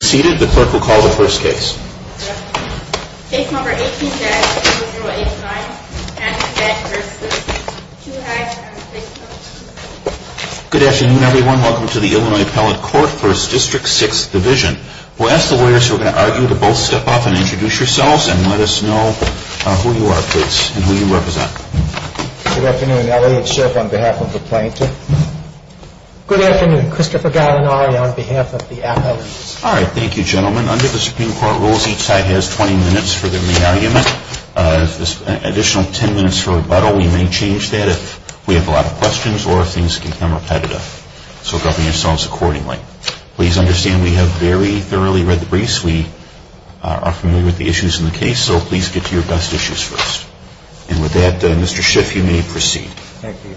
Good afternoon everyone, welcome to the Illinois Appellate Court for its District 6th Division. We'll ask the lawyers who are going to argue to both step up and introduce yourselves and let us know who you are, please, and who you represent. Good afternoon, Elliot Schiff on behalf of the plaintiff. Good afternoon, Christopher Godinari on behalf of the appellate. All right, thank you, gentlemen. Under the Supreme Court rules, each side has 20 minutes for their main argument. If there's an additional 10 minutes for rebuttal, we may change that if we have a lot of questions or if things become repetitive. So govern yourselves accordingly. Please understand we have very thoroughly read the briefs, we are familiar with the issues in the case, so please get to your best issues first. And with that, Mr. Schiff, you may proceed. Thank you.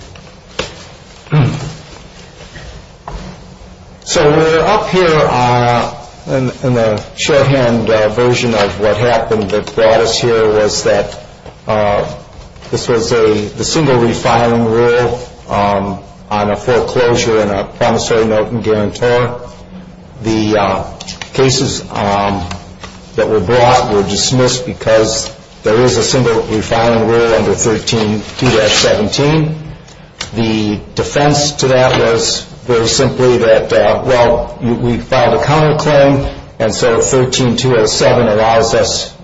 So we're up here in the shorthand version of what happened that brought us here was that this was the single refiling rule on a foreclosure and a promissory note and guarantor. The cases that were brought were dismissed because there is a single refiling rule under 13-17. The defense to that was very simply that, well, we filed a counterclaim, and so 13-207 allows us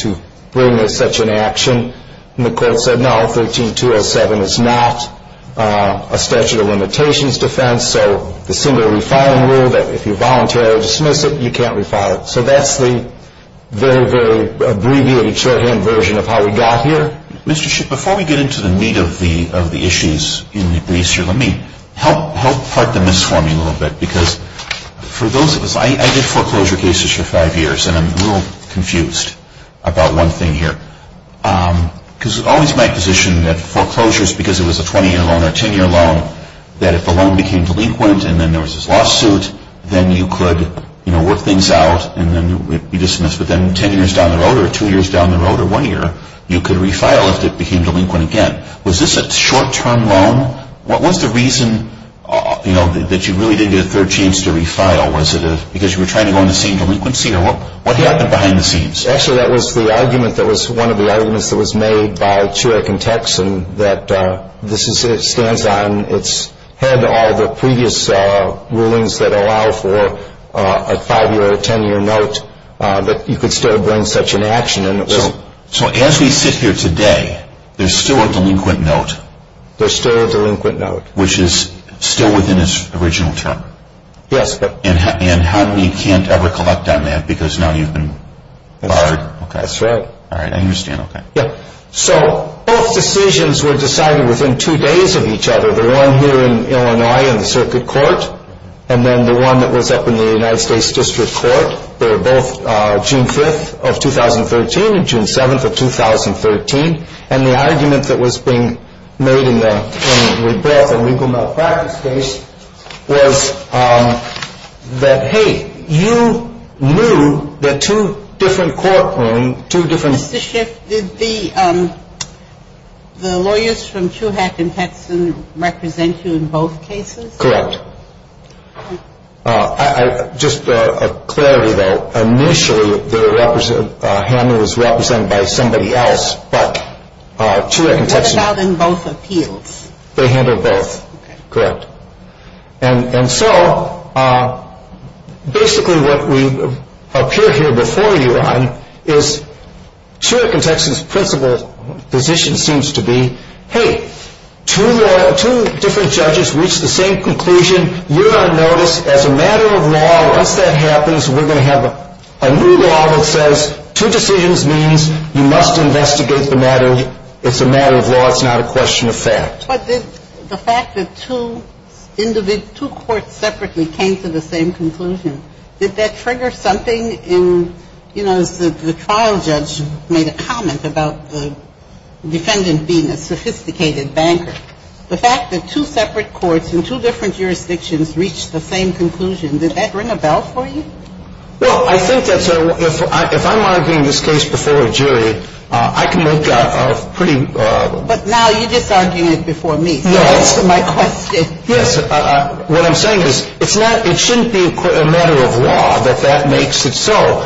to bring such an action. And the court said, no, 13-207 is not a statute of limitations defense, so the single refiling rule that if you voluntarily dismiss it, you can't refile it. So that's the very, very abbreviated shorthand version of how we got here. Mr. Schiff, before we get into the meat of the issues in the briefs here, let me help part the myths for me a little bit. Because for those of us, I did foreclosure cases for five years, and I'm a little confused about one thing here. Because it was always my position that foreclosures, because it was a 20-year loan or a 10-year loan, that if the loan became delinquent and then there was this lawsuit, then you could work things out and then it would be dismissed. But then 10 years down the road or two years down the road or one year, you could refile if it became delinquent again. Was this a short-term loan? What was the reason that you really didn't get a third chance to refile? Was it because you were trying to go into scene delinquency? Or what happened behind the scenes? Actually, that was the argument that was one of the arguments that was made by Churek and Texan that this stands on its head all the previous rulings that allow for a five-year or a 10-year note that you could still bring such an action. So as we sit here today, there's still a delinquent note? There's still a delinquent note. Which is still within its original term? Yes. And you can't ever collect on that because now you've been barred? That's right. All right, I understand. So both decisions were decided within two days of each other, the one here in Illinois in the Circuit Court and then the one that was up in the United States District Court. And the argument that was being made in both the legal malpractice case was that, hey, you knew that two different courtrooms, two different Mr. Schiff, did the lawyers from Churek and Texan represent you in both cases? Correct. Just a clarity, though. Initially, Hammond was represented by somebody else, but Churek and Texan. What about in both appeals? They handled both. Okay. Correct. And so basically what we appear here before you on is Churek and Texan's principal position seems to be, hey, two different judges reached the same conclusion. You're on notice. As a matter of law, once that happens, we're going to have a new law that says two decisions means you must investigate the matter. It's a matter of law. It's not a question of fact. But the fact that two courts separately came to the same conclusion, did that trigger something in, you know, the trial judge made a comment about the defendant being a sophisticated banker. The fact that two separate courts in two different jurisdictions reached the same conclusion, did that ring a bell for you? Well, I think that's a – if I'm arguing this case before a jury, I can make a pretty – But now you're just arguing it before me. No. So answer my question. Yes. What I'm saying is it's not – it shouldn't be a matter of law that that makes it so.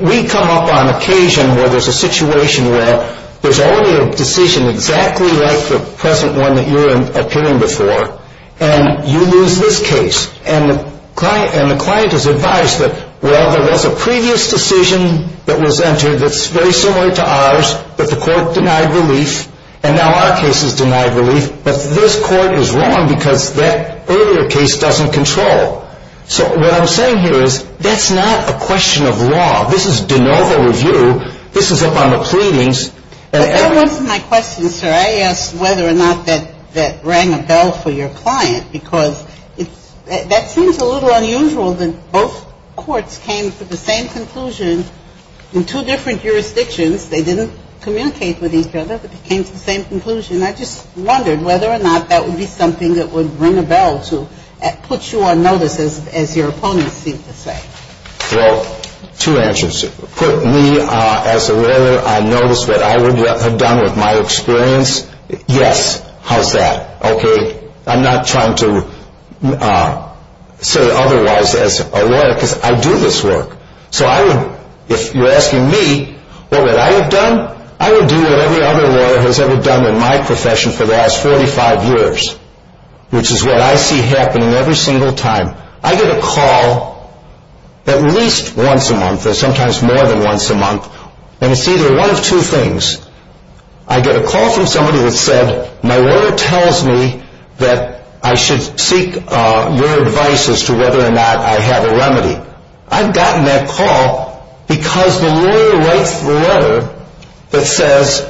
We come up on occasion where there's a situation where there's already a decision exactly like the present one that you're appearing before, and you lose this case. And the client is advised that, well, there was a previous decision that was entered that's very similar to ours, but the court denied relief, and now our case is denied relief. But this court is wrong because that earlier case doesn't control. So what I'm saying here is that's not a question of law. This is de novo review. This is up on the pleadings. But that wasn't my question, sir. I asked whether or not that rang a bell for your client because that seems a little unusual that both courts came to the same conclusion in two different jurisdictions. They didn't communicate with each other, but they came to the same conclusion. I just wondered whether or not that would be something that would ring a bell to put you on notice, as your opponents seem to say. Well, two answers. Put me as a lawyer on notice what I would have done with my experience? Yes. How's that? Okay. I'm not trying to say otherwise as a lawyer because I do this work. If you're asking me what would I have done, I would do what every other lawyer has ever done in my profession for the last 45 years, which is what I see happening every single time. I get a call at least once a month or sometimes more than once a month, and it's either one of two things. I get a call from somebody that said, my lawyer tells me that I should seek your advice as to whether or not I have a remedy. I've gotten that call because the lawyer writes the letter that says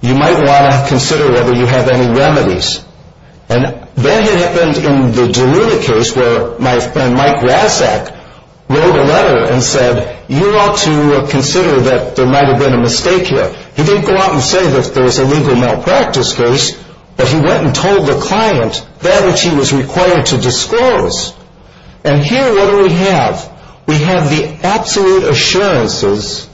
you might want to consider whether you have any remedies. And that had happened in the DeLuna case where my friend Mike Razzak wrote a letter and said, you ought to consider that there might have been a mistake here. He didn't go out and say that there was a legal malpractice case, but he went and told the client that which he was required to disclose. And here what do we have? We have the absolute assurances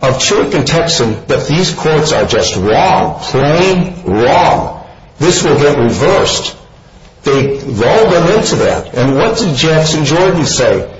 of Chiric and Texan that these courts are just wrong, plain wrong. This will get reversed. They roll them into that. And what did Jackson Jordan say?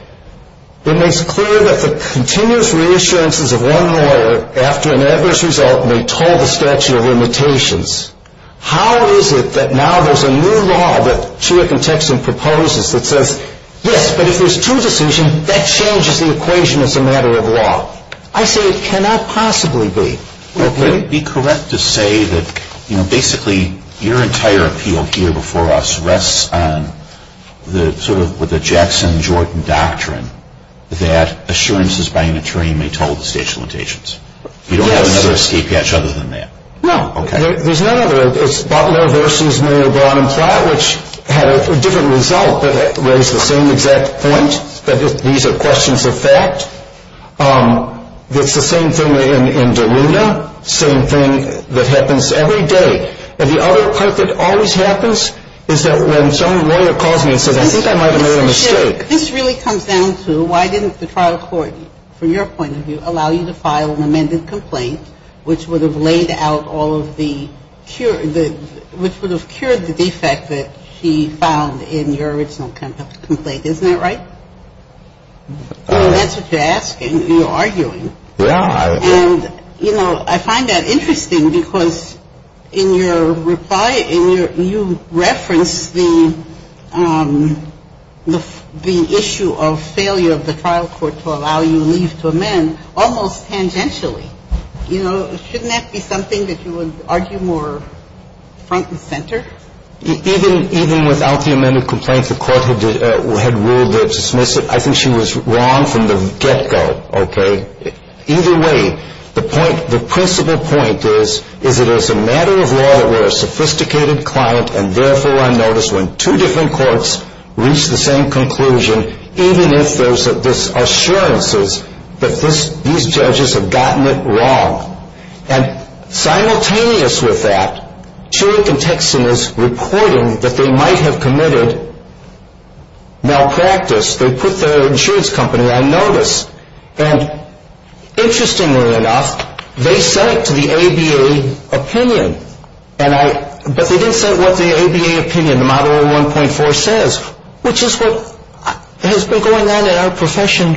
It makes clear that the continuous reassurances of one lawyer after an adverse result may toll the statute of limitations. How is it that now there's a new law that Chiric and Texan proposes that says, yes, but if there's true decision, that changes the equation as a matter of law. I say it cannot possibly be. Would it be correct to say that basically your entire appeal here before us rests on sort of the Jackson Jordan doctrine that assurances by an attorney may toll the statute of limitations? You don't have another escape hatch other than that? No. Okay. There's none other. It's Butler v. Mayor Braun and Platt, which had a different result, but raised the same exact point, that these are questions of fact. It's the same thing in Derrida, same thing that happens every day. And the other part that always happens is that when some lawyer calls me and says, I think I might have made a mistake. You said that the trial court would allow you to file an amended complaint, which would have laid out all of the cure, which would have cured the defect that he found in your original complaint. Isn't that right? That's what you're asking. You're arguing. Yeah. And, you know, I find that interesting because in your reply, you referenced the issue of failure of the trial court to allow you leave to amend almost tangentially. You know, shouldn't that be something that you would argue more front and center? Even without the amended complaint, the court had ruled to dismiss it. I think she was wrong from the get-go, okay? Either way, the principle point is, is it is a matter of law that we're a sophisticated client and therefore on notice when two different courts reach the same conclusion, even if there's assurances that these judges have gotten it wrong. And simultaneous with that, Chirik and Texan is reporting that they might have committed malpractice. They put their insurance company on notice. And interestingly enough, they sent to the ABA opinion. But they didn't send what the ABA opinion, the Model 1.4, says, which is what has been going on in our profession,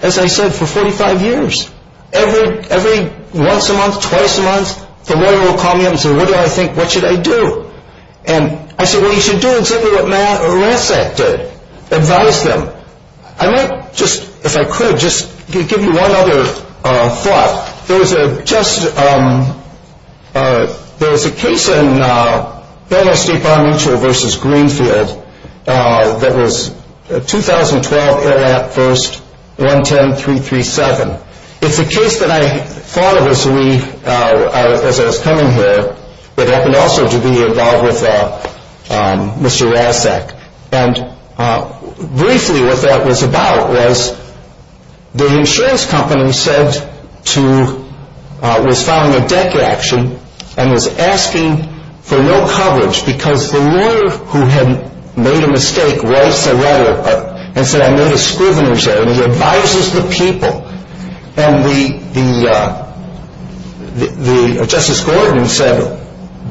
as I said, for 45 years. Every once a month, twice a month, the lawyer will call me up and say, what do I think, what should I do? And I say, well, you should do exactly what Matt Orasek did, advise them. I might just, if I could, just give you one other thought. There was a case in Federal State Bar Mutual v. Greenfield that was 2012, 1-10-337. It's a case that I thought of as I was coming here, but happened also to be involved with Mr. Orasek. And briefly what that was about was the insurance company said to, was filing a deck action and was asking for no coverage because the lawyer who had made a mistake writes a letter and said I made a scrivener's letter and he advises the people. And the Justice Gordon said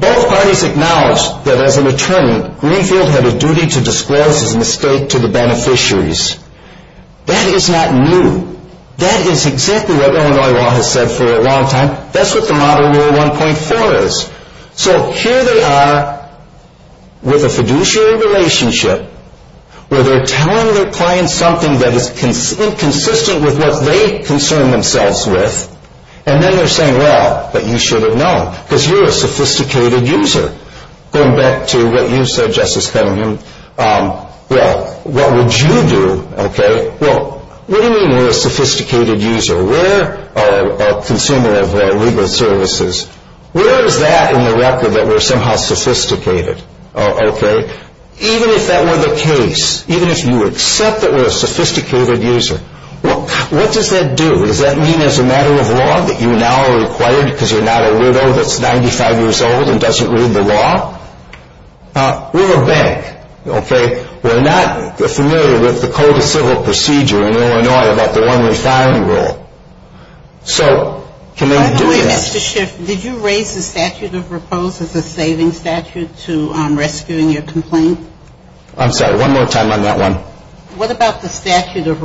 both parties acknowledged that as an attorney, Greenfield had a duty to disclose his mistake to the beneficiaries. That is not new. That is exactly what Illinois law has said for a long time. That's what the Model Rule 1.4 is. So here they are with a fiduciary relationship where they're telling their clients something that is inconsistent with what they concern themselves with. And then they're saying, well, but you should have known because you're a sophisticated user. Going back to what you said, Justice Cunningham, well, what would you do? Well, what do you mean you're a sophisticated user? We're a consumer of legal services. Where is that in the record that we're somehow sophisticated? Even if that were the case, even if you accept that we're a sophisticated user, what does that do? Does that mean as a matter of law that you now are required because you're not a widow that's 95 years old and doesn't read the law? We're a bank. We're not familiar with the Code of Civil Procedure in Illinois about the one refinery rule. So can they do that? Mr. Schiff, did you raise the statute of repose as a saving statute to rescuing your complaint? I'm sorry. One more time on that one. What about the statute of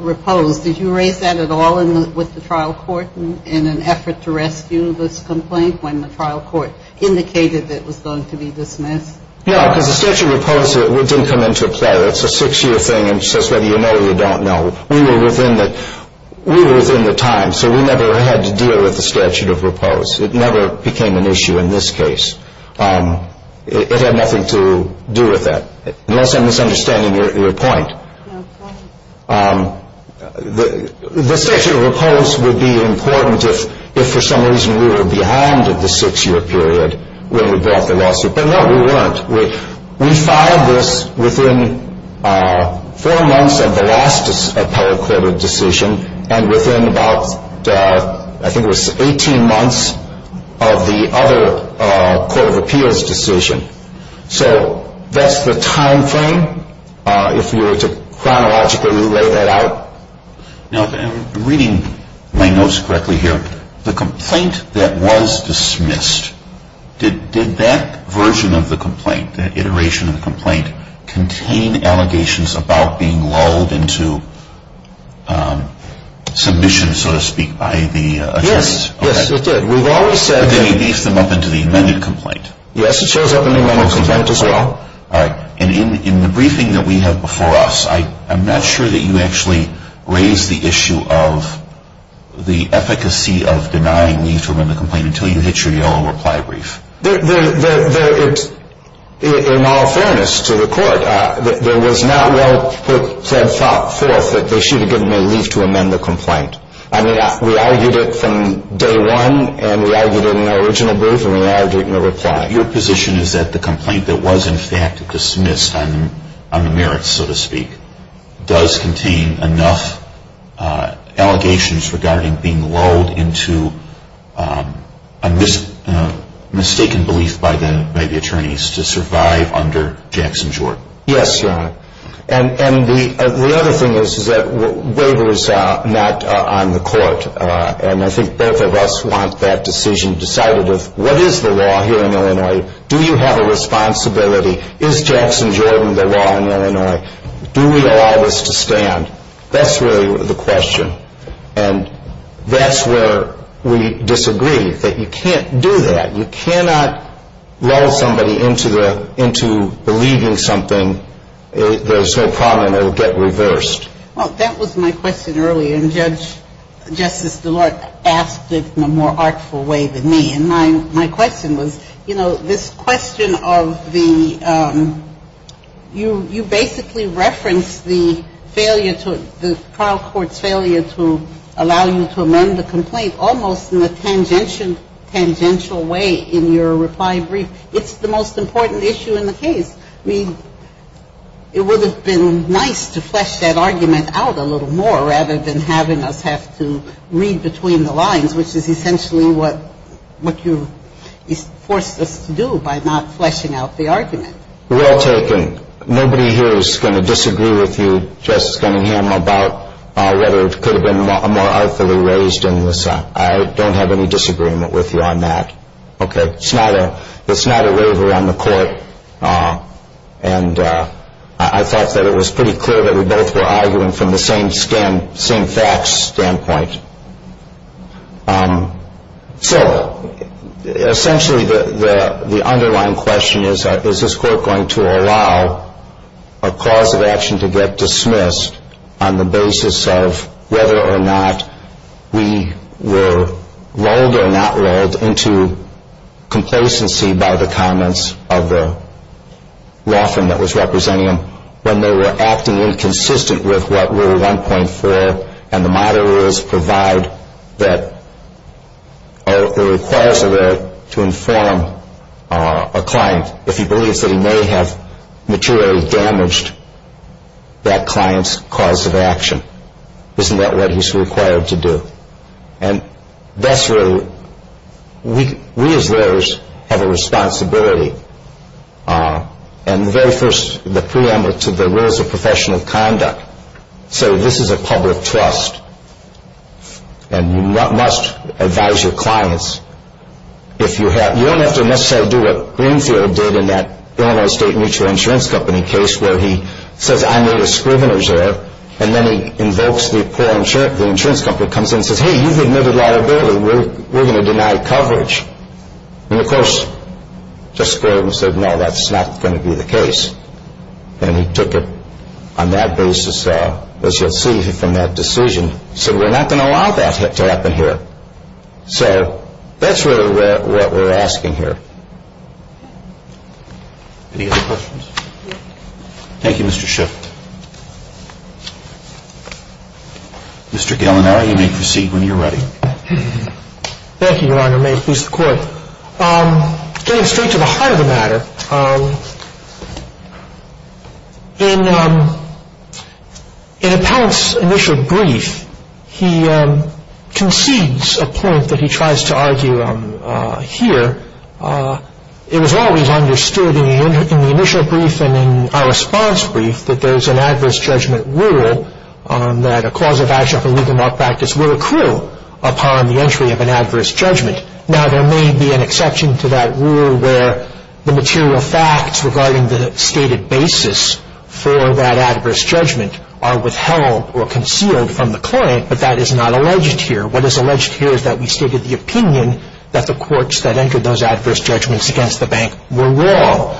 repose? Did you raise that at all with the trial court in an effort to rescue this complaint when the trial court indicated that it was going to be dismissed? No, because the statute of repose didn't come into play. That's a six-year thing, and it says whether you know or you don't know. We were within the time. So we never had to deal with the statute of repose. It never became an issue in this case. It had nothing to do with that, unless I'm misunderstanding your point. The statute of repose would be important if for some reason we were behind the six-year period when we brought the lawsuit. But, no, we weren't. We filed this within four months of the last appellate court of decision and within about, I think it was 18 months of the other court of appeals decision. So that's the time frame. If you were to chronologically relay that out. Now, if I'm reading my notes correctly here, the complaint that was dismissed, did that version of the complaint, that iteration of the complaint, contain allegations about being lulled into submission, so to speak, by the attorneys? Yes, yes, it did. But then you beefed them up into the amended complaint. Yes, it shows up in the amended complaint as well. All right. And in the briefing that we have before us, I'm not sure that you actually raised the issue of the efficacy of denying leave to amend the complaint until you hit your yellow reply brief. In all fairness to the court, there was not well fed thought forth that they should have given me leave to amend the complaint. I mean, we argued it from day one, and we argued it in our original brief, and we argued it in the reply. Your position is that the complaint that was in fact dismissed on the merits, so to speak, does contain enough allegations regarding being lulled into a mistaken belief by the attorneys to survive under Jackson Jordan. Yes, Your Honor. And the other thing is that Waver is not on the court, and I think both of us want that decision decided of what is the law here in Illinois? Do you have a responsibility? Is Jackson Jordan the law in Illinois? Do we allow this to stand? That's really the question. And that's where we disagreed, that you can't do that. You cannot lull somebody into believing something, there's no problem, and it will get reversed. Well, that was my question earlier, and Justice DeLorte asked it in a more artful way than me. And my question was, you know, this question of the you basically reference the failure to the trial court's failure to allow you to amend the complaint almost in a tangential way in your reply brief. It's the most important issue in the case. I mean, it would have been nice to flesh that argument out a little more rather than having us have to read between the lines, which is essentially what you forced us to do by not fleshing out the argument. Well taken. Nobody here is going to disagree with you, Justice Kennedy, about whether it could have been more artfully raised in this. I don't have any disagreement with you on that. Okay. It's not a waiver on the court. And I thought that it was pretty clear that we both were arguing from the same facts standpoint. So essentially the underlying question is, is this court going to allow a cause of action to get dismissed on the basis of whether or not we were lulled into complacency by the comments of the law firm that was representing them when they were acting inconsistent with what Rule 1.4 and the modern rules provide that it requires a lawyer to inform a client if he believes that he may have materially damaged that client's cause of action. Isn't that what he's required to do? And that's where we as lawyers have a responsibility. And the very first, the preamble to the rules of professional conduct, say this is a public trust and you must advise your clients. You don't have to necessarily do what Greenfield did in that Illinois State Mutual Insurance Company case And then he invokes the insurance company, comes in and says, hey, you've admitted liability, we're going to deny coverage. And, of course, just goes and says, no, that's not going to be the case. And he took it on that basis, as you'll see from that decision, said we're not going to allow that to happen here. So that's really what we're asking here. Any other questions? Thank you, Mr. Schiff. Mr. Gallinara, you may proceed when you're ready. Thank you, Your Honor. May it please the Court. Getting straight to the heart of the matter, in Appellant's initial brief, he concedes a point that he tries to argue here. It was always understood in the initial brief and in our response brief that there's an adverse judgment rule that a cause of action of illegal malpractice will accrue upon the entry of an adverse judgment. Now, there may be an exception to that rule where the material facts regarding the stated basis for that adverse judgment are withheld or concealed from the client, but that is not alleged here. What is alleged here is that we stated the opinion that the courts that entered those adverse judgments against the bank were wrong.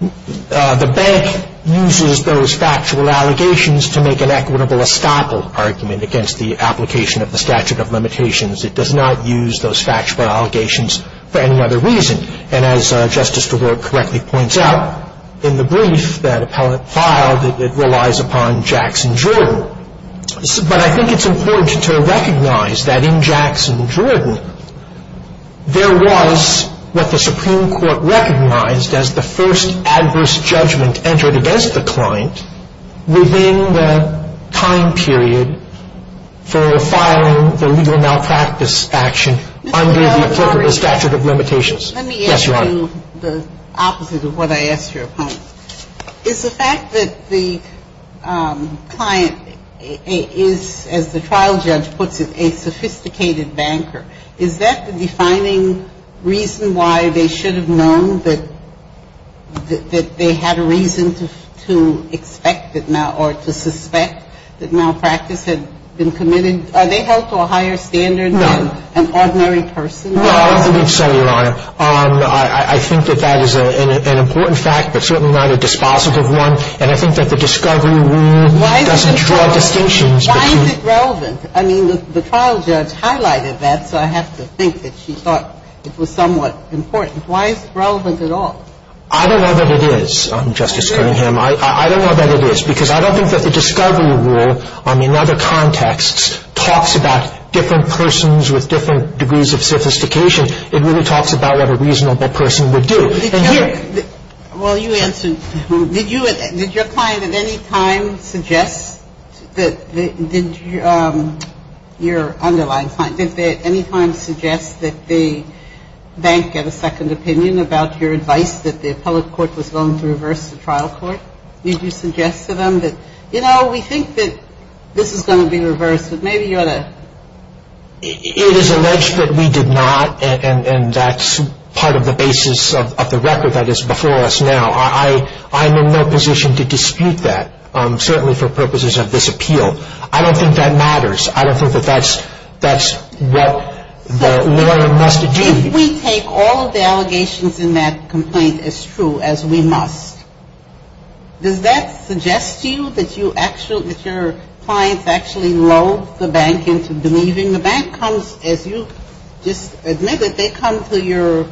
The bank uses those factual allegations to make an equitable estoppel argument against the application of the statute of limitations. It does not use those factual allegations for any other reason. And as Justice DeWart correctly points out in the brief that Appellant filed, it relies upon Jackson Jordan. So, but I think it's important to recognize that in Jackson Jordan, there was what the Supreme Court recognized as the first adverse judgment entered against the client within the time period for filing the legal malpractice action under the applicable statute of limitations. Yes, Your Honor. I'm going to ask you the opposite of what I asked your opponent. Is the fact that the client is, as the trial judge puts it, a sophisticated banker, is that the defining reason why they should have known that they had a reason to expect or to suspect that malpractice had been committed? Are they held to a higher standard than an ordinary person? No, I don't believe so, Your Honor. I think that that is an important fact, but certainly not a dispositive one. And I think that the discovery rule doesn't draw distinctions between the two. Why is it relevant? I mean, the trial judge highlighted that, so I have to think that she thought it was somewhat important. Why is it relevant at all? I don't know that it is, Justice Cunningham. I don't know that it is, because I don't think that the discovery rule in other cases, it talks about what a reasonable person would do. Well, you answered. Did your client at any time suggest that your underlying client, did they at any time suggest that the bank get a second opinion about your advice that the appellate court was going to reverse the trial court? Did you suggest to them that, you know, we think that this is going to be reversed, that maybe you ought to. It is alleged that we did not, and that's part of the basis of the record that is before us now. I'm in no position to dispute that, certainly for purposes of this appeal. I don't think that matters. I don't think that that's what the lawyer must do. If we take all of the allegations in that complaint as true, as we must, does that suggest to you that your clients actually lulled the bank into believing the bank comes, as you just admitted, they come to your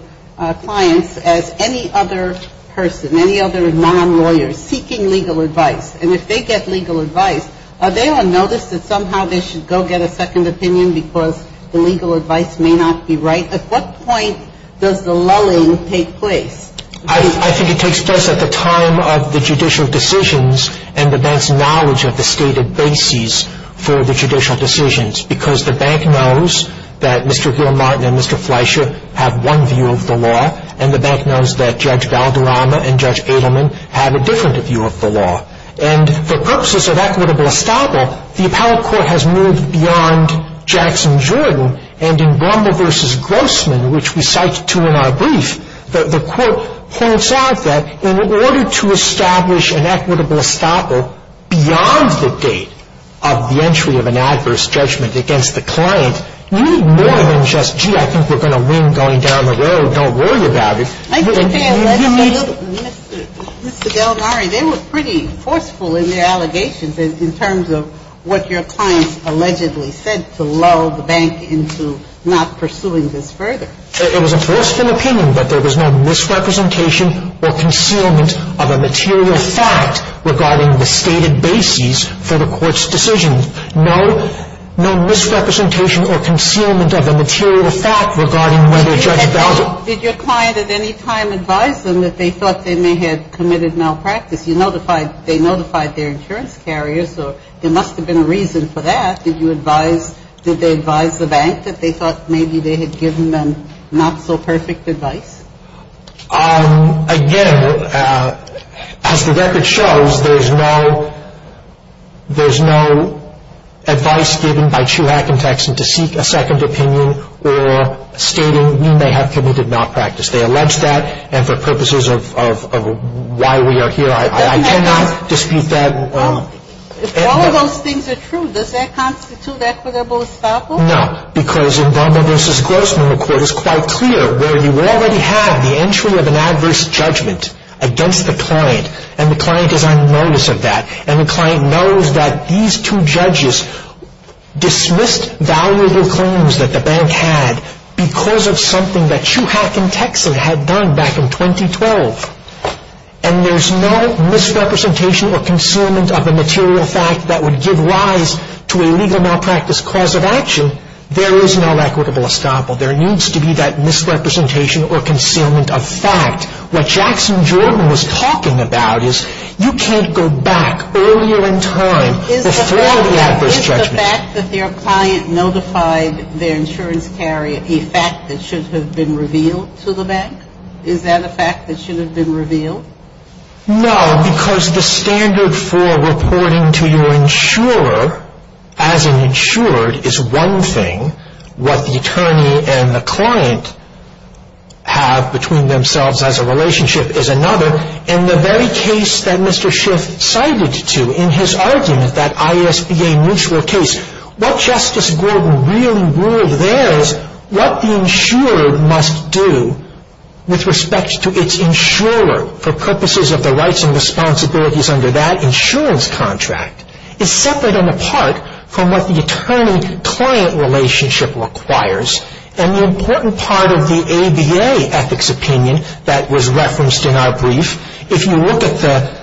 clients as any other person, any other non-lawyer, seeking legal advice. And if they get legal advice, are they on notice that somehow they should go get a second opinion because the legal advice may not be right? At what point does the lulling take place? I think it takes place at the time of the judicial decisions and the bank's knowledge of the stated basis for the judicial decisions because the bank knows that Mr. Gilmartin and Mr. Fleischer have one view of the law, and the bank knows that Judge Valderrama and Judge Adelman have a different view of the law. And for purposes of equitable estoppel, the appellate court has moved beyond Jackson-Jordan, and in Brummel v. Grossman, which we cite to in our brief, the court holds out that in order to establish an equitable estoppel beyond the date of the entry of an adverse judgment against the client, you need more than just, gee, I think we're going to win going down the road, don't worry about it. I can say a little bit. Mr. Del Nari, they were pretty forceful in their allegations in terms of what your clients allegedly said to lull the bank into not pursuing this further. It was a forceful opinion, but there was no misrepresentation or concealment of a material fact regarding the stated basis for the court's decision. No misrepresentation or concealment of a material fact regarding whether Judge Valderrama Did your client at any time advise them that they thought they may have committed malpractice? They notified their insurance carriers. There must have been a reason for that. Did they advise the bank that they thought maybe they had given them not-so-perfect advice? Again, as the record shows, there's no advice given by Chuack and Texan to seek a second opinion or stating we may have committed malpractice. They allege that, and for purposes of why we are here, I cannot dispute that. If all of those things are true, does that constitute equitable estoppel? No, because in Velma v. Grossman, the court is quite clear where you already have the entry of an adverse judgment against the client, and the client is on notice of that, and the client knows that these two judges dismissed valuable claims that the bank had because of something that Chuack and Texan had done back in 2012. And there's no misrepresentation or concealment of a material fact that would give rise to a legal malpractice cause of action. There is no equitable estoppel. There needs to be that misrepresentation or concealment of fact. What Jackson Jordan was talking about is you can't go back earlier in time before the adverse judgment. Is the fact that their client notified their insurance carrier a fact that should have been revealed to the bank? Is that a fact that should have been revealed? No, because the standard for reporting to your insurer as an insured is one thing. What the attorney and the client have between themselves as a relationship is another. And the very case that Mr. Schiff cited to in his argument, that ISBA mutual case, what Justice Gordon really ruled there is what the insurer must do with respect to its insurer for purposes of the rights and responsibilities under that insurance contract is separate and apart from what the attorney-client relationship requires. And the important part of the ABA ethics opinion that was referenced in our brief, if you look at the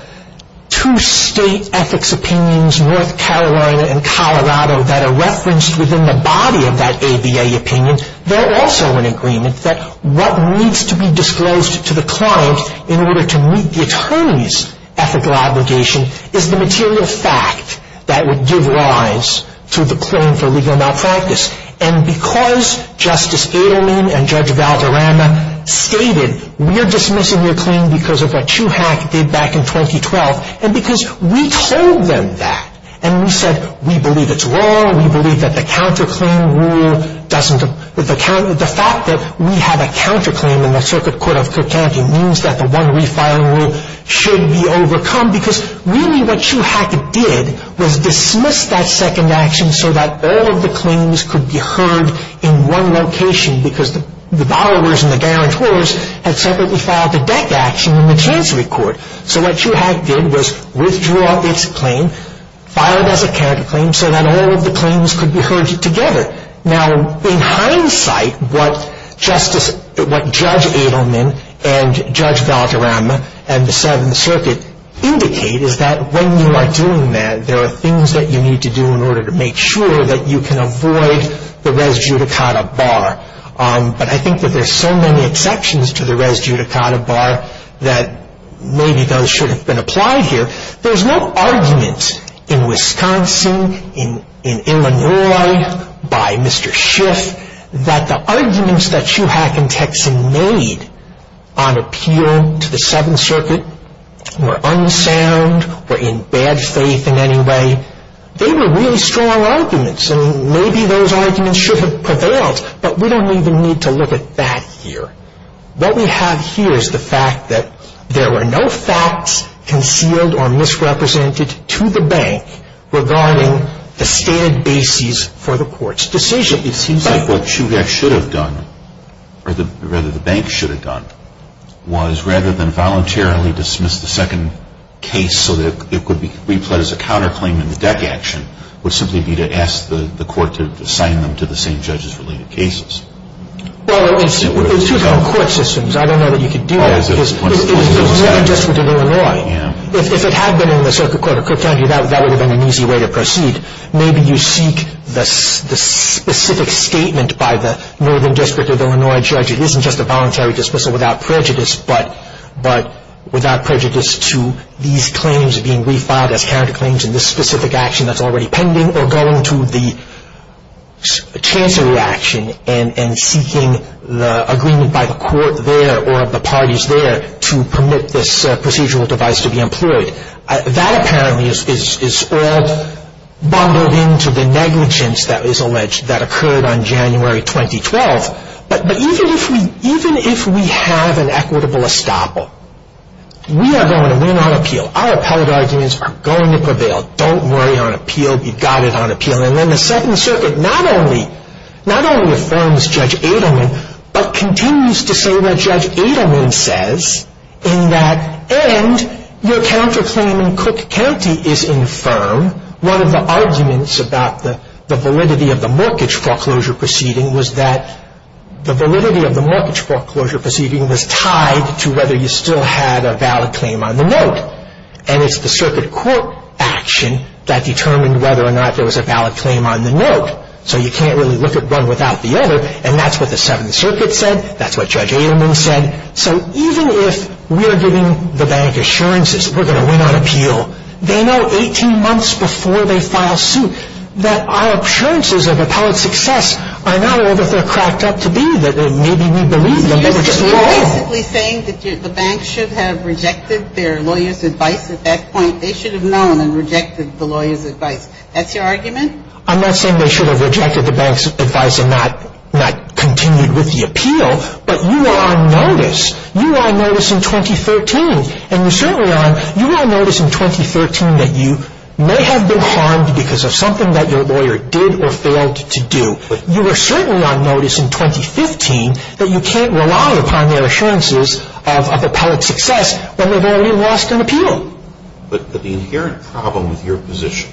two state ethics opinions, North Carolina and Colorado, that are referenced within the body of that ABA opinion, they're also in agreement that what needs to be disclosed to the client in order to meet the attorney's ethical obligation is the material fact that would give rise to the claim for legal malpractice. And because Justice Adelman and Judge Valderrama stated, we're dismissing your claim because of what Chuhak did back in 2012, and because we told them that, and we said, we believe it's wrong, we believe that the counterclaim rule doesn't, the fact that we have a counterclaim in the circuit court of Cook County means that the one refiling rule should be overcome, because really what Chuhak did was dismiss that second action so that all of the claims could be heard in one location because the borrowers and the guarantors had separately filed the debt action in the chancellery court. So what Chuhak did was withdraw its claim, file it as a counterclaim so that all of the claims could be heard together. Now, in hindsight, what Justice, what Judge Adelman and Judge Valderrama and the 7th Circuit indicate is that when you are doing that, there are things that you need to do in order to make sure that you can avoid the res judicata bar. But I think that there are so many exceptions to the res judicata bar that maybe those should have been applied here. There's no argument in Wisconsin, in Illinois, by Mr. Schiff, that the arguments that Chuhak and Texan made on appeal to the 7th Circuit were unsound or in bad faith in any way. They were really strong arguments, and maybe those arguments should have prevailed, but we don't even need to look at that here. What we have here is the fact that there were no facts concealed or misrepresented to the bank regarding the standard basis for the court's decision. It seems like what Chuhak should have done, or rather the bank should have done, was rather than voluntarily dismiss the second case so that it could be replayed as a counterclaim in the deck action, would simply be to ask the court to assign them to the same judge's related cases. Well, it's two different court systems. I don't know that you could do that. It's the Northern District of Illinois. If it had been in the Circuit Court of Cook County, that would have been an easy way to proceed. Maybe you seek the specific statement by the Northern District of Illinois judge. It isn't just a voluntary dismissal without prejudice, but without prejudice to these claims being refiled as counterclaims in this specific action that's already pending, or going to the chancery action and seeking the agreement by the court there or of the parties there to permit this procedural device to be employed. That apparently is all bundled into the negligence that is alleged that occurred on January 2012. But even if we have an equitable estoppel, we are going to win on appeal. Our appellate arguments are going to prevail. Don't worry on appeal. We've got it on appeal. And then the Second Circuit not only affirms Judge Adelman, but continues to say what Judge Adelman says in that, and your counterclaim in Cook County is infirm. One of the arguments about the validity of the mortgage foreclosure proceeding was that the validity of the mortgage foreclosure proceeding was tied to whether you still had a valid claim on the note. And it's the circuit court action that determined whether or not there was a valid claim on the note. So you can't really look at one without the other, and that's what the Seventh Circuit said. That's what Judge Adelman said. So even if we're giving the bank assurances we're going to win on appeal, they know 18 months before they file suit that our assurances of appellate success are not all that they're cracked up to be, that maybe we believe them, but we're just wrong. You're basically saying that the bank should have rejected their lawyer's advice at that point. They should have known and rejected the lawyer's advice. That's your argument? I'm not saying they should have rejected the bank's advice and not continued with the appeal, but you are on notice. You are on notice in 2013, and you certainly are on notice in 2013 that you may have been harmed because of something that your lawyer did or failed to do. You are certainly on notice in 2015 that you can't rely upon their assurances of appellate success when they've already lost an appeal. But the inherent problem with your position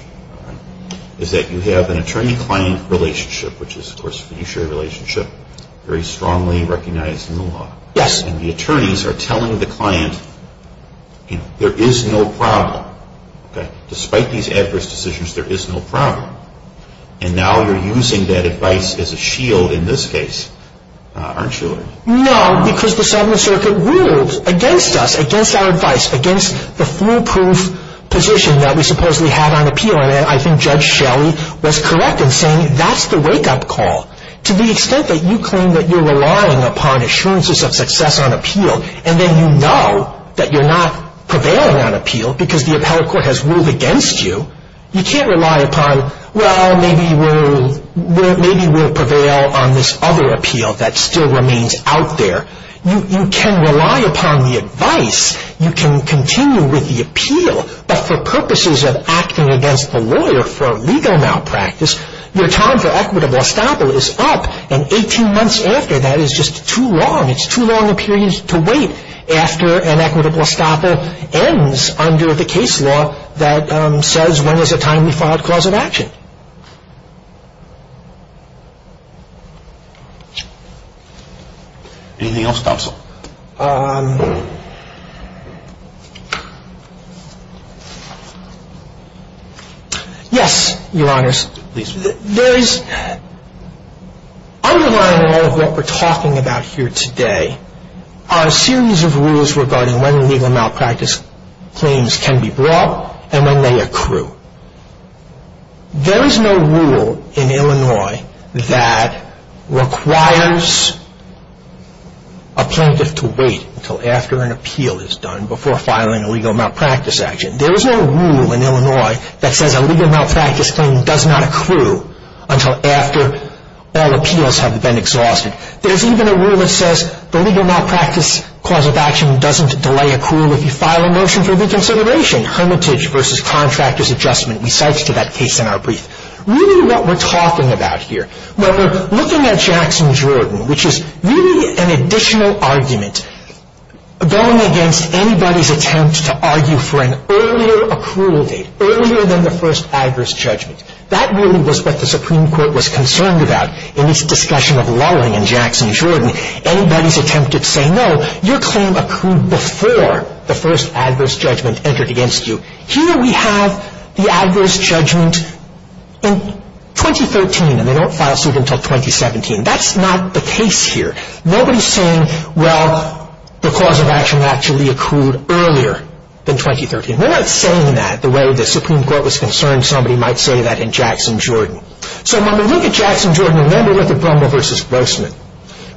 is that you have an attorney-client relationship, which is, of course, a fiduciary relationship very strongly recognized in the law. Yes. And the attorneys are telling the client, you know, there is no problem. Despite these adverse decisions, there is no problem. And now you're using that advice as a shield in this case, aren't you? No, because the Seventh Circuit ruled against us, against our advice, against the foolproof position that we supposedly had on appeal. And I think Judge Shelley was correct in saying that's the wake-up call. To the extent that you claim that you're relying upon assurances of success on appeal, and then you know that you're not prevailing on appeal because the appellate court has ruled against you, you can't rely upon, well, maybe we'll prevail on this other appeal that still remains out there. You can rely upon the advice. You can continue with the appeal. But for purposes of acting against the lawyer for legal malpractice, your time for equitable estoppel is up, and 18 months after that is just too long. It's too long a period to wait after an equitable estoppel ends under the case law that says, when is a timely fraud cause of action. Anything else, counsel? Yes, Your Honors. There is, underlying all of what we're talking about here today, are a series of rules regarding when legal malpractice claims can be brought and when they accrue. There is no rule in Illinois that requires a plaintiff to wait until after an appeal is done before filing a legal malpractice action. There is no rule in Illinois that says a legal malpractice claim does not accrue until after all appeals have been exhausted. There's even a rule that says the legal malpractice cause of action doesn't delay accrual if you file a motion for reconsideration, hermitage versus contractor's adjustment. We cite to that case in our brief. Really what we're talking about here, when we're looking at Jackson Jordan, which is really an additional argument going against anybody's attempt to argue for an earlier accrual date, earlier than the first adverse judgment. That really was what the Supreme Court was concerned about in its discussion of lulling in Jackson Jordan. Anybody's attempt to say, no, your claim accrued before the first adverse judgment entered against you. Here we have the adverse judgment in 2013, and they don't file suit until 2017. That's not the case here. Nobody's saying, well, the cause of action actually accrued earlier than 2013. We're not saying that the way the Supreme Court was concerned. Somebody might say that in Jackson Jordan. So when we look at Jackson Jordan and then we look at Brummel versus Grossman,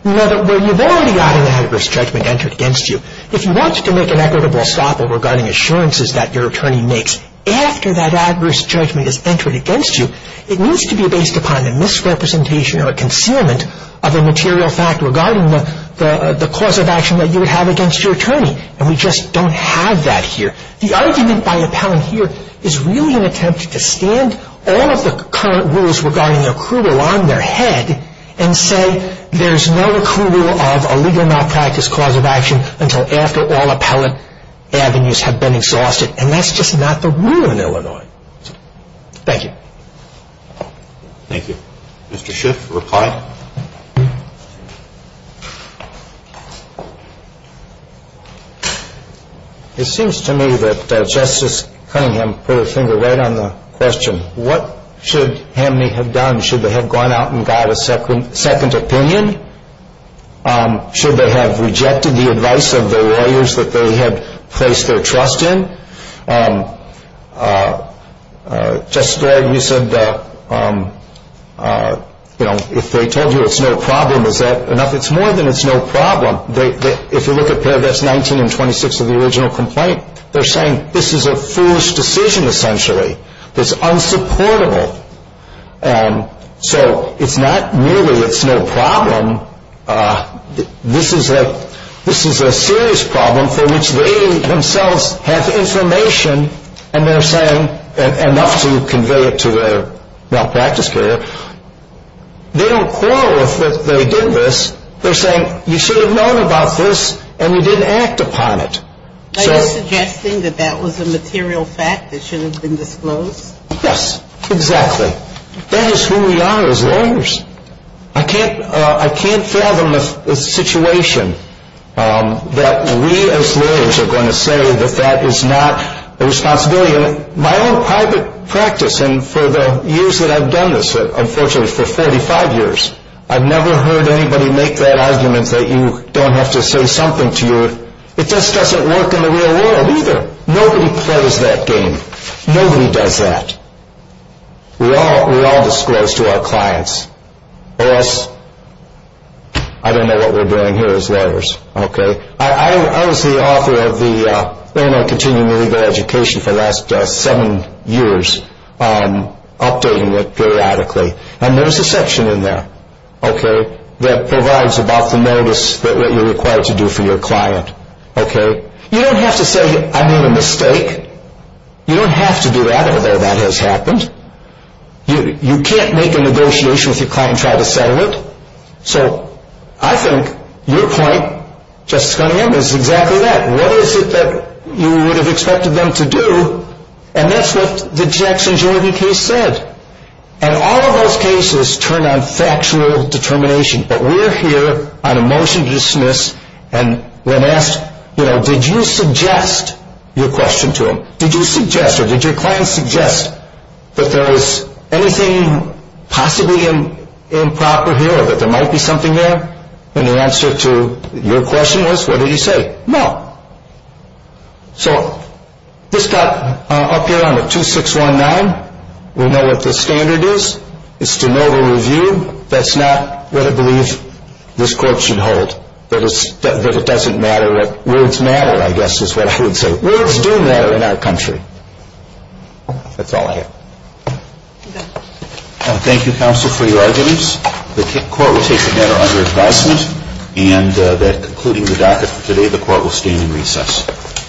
we know that where you've already got an adverse judgment entered against you, if you want to make an equitable stopper regarding assurances that your attorney makes after that adverse judgment has entered against you, it needs to be based upon a misrepresentation or a concealment of a material fact regarding the cause of action that you would have against your attorney. And we just don't have that here. The argument by appellant here is really an attempt to stand all of the current rules regarding accrual on their head and say there's no accrual of a legal malpractice cause of action until after all appellant avenues have been exhausted. And that's just not the rule in Illinois. Thank you. Thank you. Mr. Schiff, reply. It seems to me that Justice Cunningham put her finger right on the question. What should Hamney have done? Should they have gone out and got a second opinion? Should they have rejected the advice of the lawyers that they had placed their trust in? Justice Floyd, you said, you know, if they told you it's no problem, is that enough? It's more than it's no problem. If you look at paragraphs 19 and 26 of the original complaint, they're saying this is a foolish decision, essentially. It's unsupportable. And so it's not merely it's no problem. This is a serious problem for which they themselves have information and they're saying enough to convey it to their malpractice carrier. They don't quarrel if they did this. They're saying you should have known about this and you didn't act upon it. Are you suggesting that that was a material fact that should have been disclosed? Yes, exactly. That is who we are as lawyers. I can't fathom a situation that we as lawyers are going to say that that is not a responsibility. My own private practice, and for the years that I've done this, unfortunately for 45 years, I've never heard anybody make that argument that you don't have to say something to your It just doesn't work in the real world either. Nobody plays that game. Nobody does that. We all disclose to our clients. I don't know what we're doing here as lawyers. I was the author of the continuing legal education for the last seven years, updating it periodically. And there's a section in there that provides about the notice that you're required to do for your client. You don't have to say I made a mistake. You don't have to do that, although that has happened. You can't make a negotiation with your client and try to settle it. So I think your point, Justice Cunningham, is exactly that. What is it that you would have expected them to do? And that's what the Jackson-Jordan case said. And all of those cases turn on factual determination, but we're here on a motion to dismiss and when asked, you know, did you suggest your question to them? Did you suggest or did your client suggest that there is anything possibly improper here, or that there might be something there? And the answer to your question was, what did he say? No. So this got up here on the 2619. We know what the standard is. It's to know the review. That's not what I believe this Court should hold, that it doesn't matter. Words matter, I guess, is what I would say. Words do matter in our country. That's all I have. Thank you, Counsel, for your arguments. The Court will take the matter under advisement. And concluding the docket for today, the Court will stand in recess.